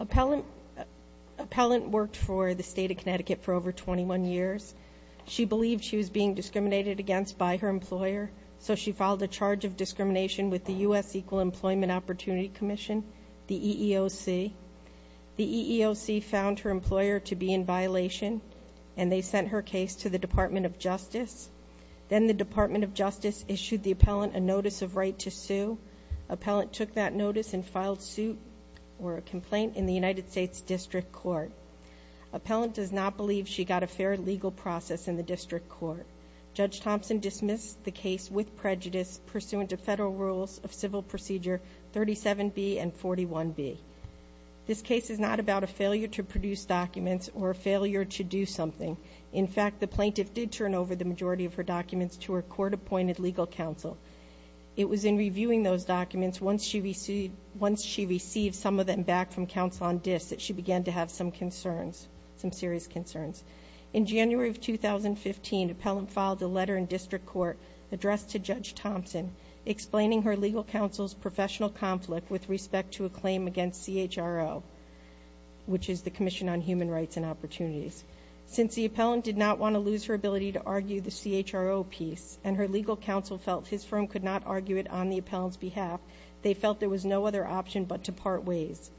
Appellant worked for the state of Connecticut for over 21 years. She believed she was being discriminated against by her employer, so she filed a charge of discrimination with the U.S. Equal Employment Opportunity Commission, the EEOC. The EEOC found her employer to be in violation, and they sent her case to the Department of Justice. Then the Department of Justice issued the appellant a notice of right to sue. Appellant took that notice and filed suit or a complaint in the United States District Court. Appellant does not believe she got a fair legal process in the district court. Judge Thompson dismissed the case with prejudice pursuant to federal rules of civil procedure 37B and 41B. This case is not about a failure to produce documents or a failure to do something. In fact, the plaintiff did turn over the majority of her documents to her court-appointed legal counsel. It was in reviewing those documents, once she received some of them back from counsel on disk, that she began to have some concerns, some serious concerns. In January of 2015, appellant filed a letter in district court addressed to Judge Thompson explaining her legal counsel's professional conflict with respect to a claim against CHRO, which is the Commission on Human Rights and Opportunities. Since the appellant did not want to lose her ability to argue the CHRO piece and her legal counsel felt his firm could not argue it on the appellant's behalf, they felt there was no other option but to part ways.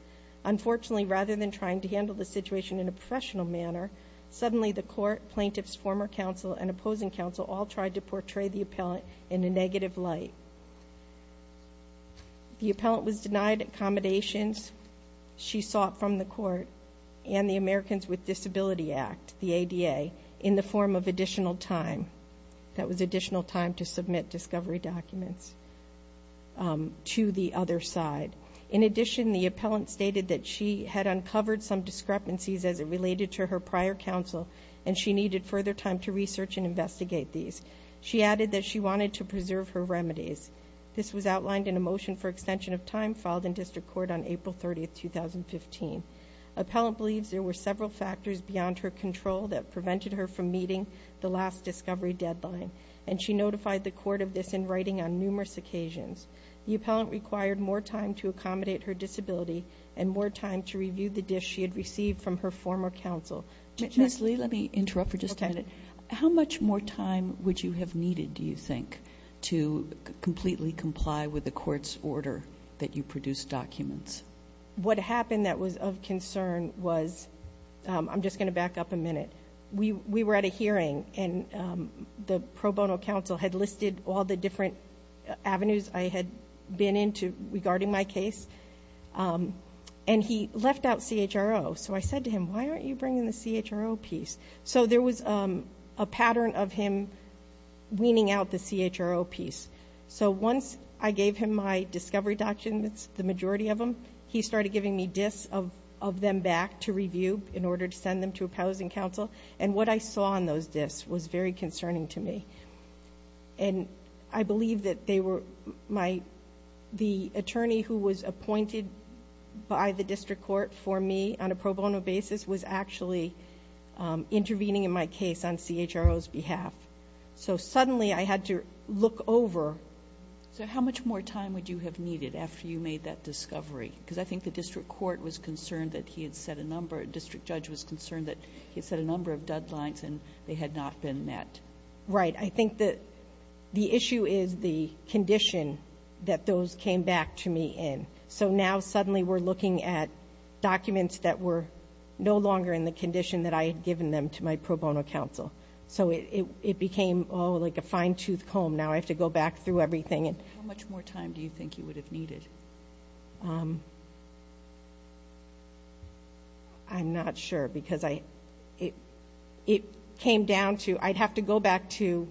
Unfortunately, rather than trying to handle the situation in a professional manner, suddenly the court, plaintiffs, former counsel, and opposing counsel all tried to portray the appellant in a negative light. The appellant was denied accommodations she sought from the court and the Americans with Disability Act, the ADA, in the form of additional time. That was additional time to submit discovery documents to the other side. In addition, the appellant stated that she had uncovered some discrepancies as it related to her prior counsel, and she needed further time to research and investigate these. She added that she wanted to preserve her remedies. This was outlined in a motion for extension of time filed in district court on April 30, 2015. Appellant believes there were several factors beyond her control that prevented her from meeting the last discovery deadline, and she notified the court of this in writing on numerous occasions. The appellant required more time to accommodate her disability and more time to review the disk she had received from her former counsel. Ms. Lee, let me interrupt for just a minute. Okay. How much more time would you have needed, do you think, to completely comply with the court's order that you produced documents? What happened that was of concern was, I'm just going to back up a minute. We were at a hearing, and the pro bono counsel had listed all the different avenues I had been into regarding my case, and he left out CHRO. So I said to him, why aren't you bringing the CHRO piece? So there was a pattern of him weaning out the CHRO piece. So once I gave him my discovery documents, the majority of them, he started giving me disks of them back to review in order to send them to a pousing counsel. And what I saw on those disks was very concerning to me. And I believe that the attorney who was appointed by the district court for me on a pro bono basis was actually intervening in my case on CHRO's behalf. So suddenly I had to look over. So how much more time would you have needed after you made that discovery? Because I think the district court was concerned that he had set a number, the district judge was concerned that he had set a number of deadlines and they had not been met. Right. I think that the issue is the condition that those came back to me in. So now suddenly we're looking at documents that were no longer in the condition that I had given them to my pro bono counsel. So it became, oh, like a fine-tooth comb. Now I have to go back through everything. How much more time do you think you would have needed? I'm not sure because it came down to, I'd have to go back to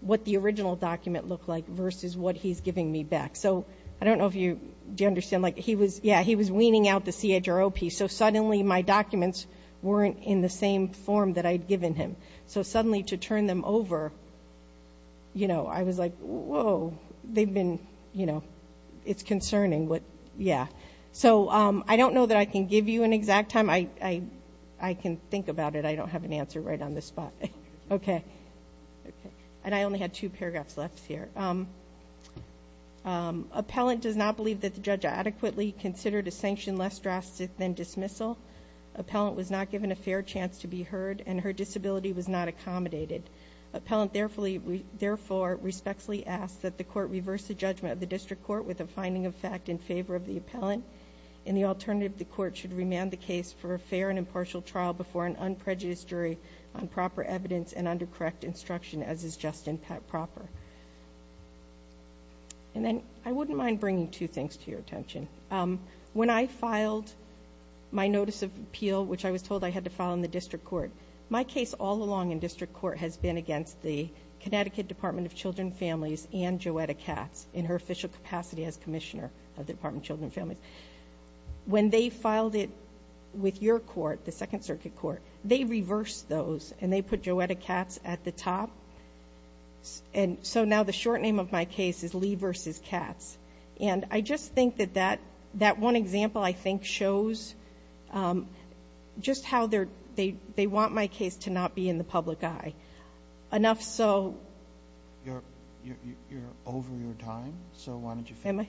what the original document looked like versus what he's giving me back. So I don't know if you understand. Yeah, he was weaning out the CHRO piece. So suddenly my documents weren't in the same form that I'd given him. So suddenly to turn them over, you know, I was like, whoa. They've been, you know, it's concerning. Yeah. So I don't know that I can give you an exact time. I can think about it. I don't have an answer right on the spot. Okay. And I only had two paragraphs left here. Appellant does not believe that the judge adequately considered a sanction less drastic than dismissal. Appellant was not given a fair chance to be heard, and her disability was not accommodated. Appellant therefore respectfully asks that the court reverse the judgment of the district court with a finding of fact in favor of the appellant. In the alternative, the court should remand the case for a fair and impartial trial before an unprejudiced jury on proper evidence and under correct instruction, as is just and proper. And then I wouldn't mind bringing two things to your attention. When I filed my notice of appeal, which I was told I had to file in the district court, my case all along in district court has been against the Connecticut Department of Children and Families and Joetta Katz in her official capacity as Commissioner of the Department of Children and Families. When they filed it with your court, the Second Circuit Court, they reversed those and they put Joetta Katz at the top. And so now the short name of my case is Lee versus Katz. And I just think that that one example, I think, shows just how they want my case to not be in the public eye, enough so. You're over your time, so why don't you finish?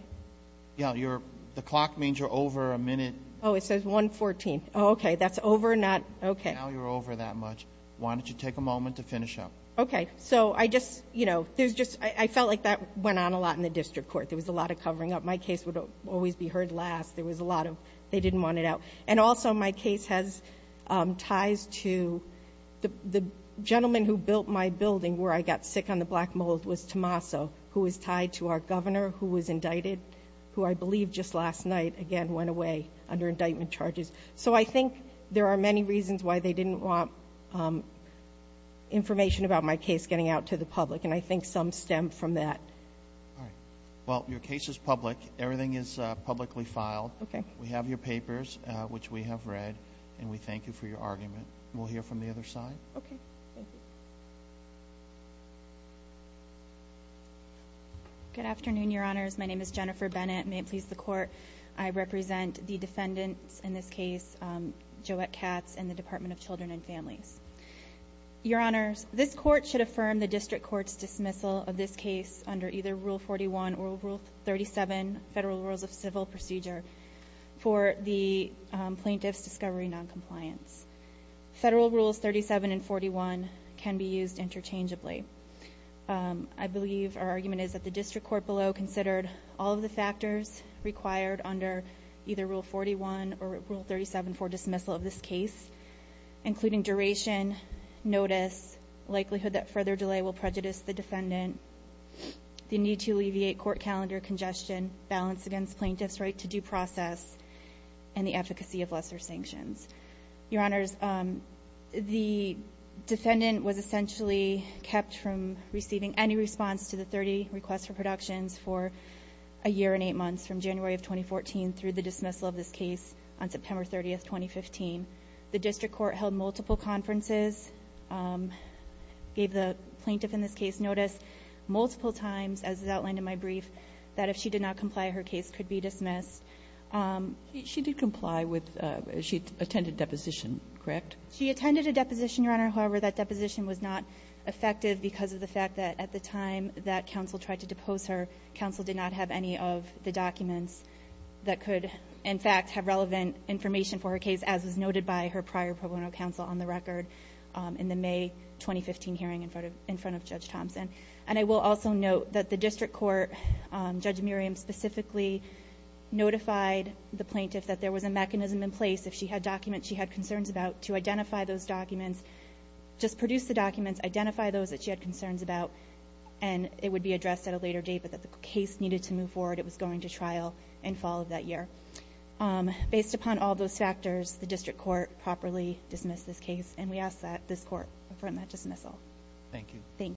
Am I? Yeah, the clock means you're over a minute. Oh, it says 1.14. Oh, okay, that's over, not, okay. Now you're over that much. Why don't you take a moment to finish up? Okay, so I just, you know, there's just, I felt like that went on a lot in the district court. There was a lot of covering up. My case would always be heard last. There was a lot of they didn't want it out. And also my case has ties to the gentleman who built my building, where I got sick on the black mold, was Tommaso, who was tied to our governor who was indicted, who I believe just last night, again, went away under indictment charges. So I think there are many reasons why they didn't want information about my case getting out to the public, and I think some stem from that. All right. Well, your case is public. Everything is publicly filed. Okay. We have your papers, which we have read, and we thank you for your argument. We'll hear from the other side. Okay. Thank you. Good afternoon, Your Honors. My name is Jennifer Bennett. May it please the Court, I represent the defendants in this case, Joette Katz and the Department of Children and Families. Your Honors, this Court should affirm the District Court's dismissal of this case under either Rule 41 or Rule 37, Federal Rules of Civil Procedure, for the plaintiff's discovery noncompliance. Federal Rules 37 and 41 can be used interchangeably. I believe our argument is that the District Court below considered all of the factors required under either Rule 41 or Rule 37 for dismissal of this case, including duration, notice, likelihood that further delay will prejudice the defendant, the need to alleviate court calendar congestion, balance against plaintiff's right to due process, and the efficacy of lesser sanctions. Your Honors, the defendant was essentially kept from receiving any response to the 30 requests for productions for a year and eight months, from January of 2014 through the dismissal of this case on September 30, 2015. The District Court held multiple conferences, gave the plaintiff in this case notice multiple times, as is outlined in my brief, that if she did not comply, her case could be dismissed. She did comply with, she attended a deposition, correct? She attended a deposition, Your Honor, however, that deposition was not effective because of the fact that at the time that counsel tried to depose her, counsel did not have any of the documents that could, in fact, have relevant information for her case, as was noted by her prior pro bono counsel on the record in the May 2015 hearing in front of Judge Thompson. And I will also note that the District Court, Judge Miriam specifically notified the plaintiff that there was a mechanism in place, if she had documents she had concerns about, to identify those documents, just produce the documents, identify those that she had concerns about, and it would be addressed at a later date, but that the case needed to move forward. It was going to trial in fall of that year. Based upon all those factors, the District Court properly dismissed this case, and we ask that this Court affirm that dismissal. Thank you.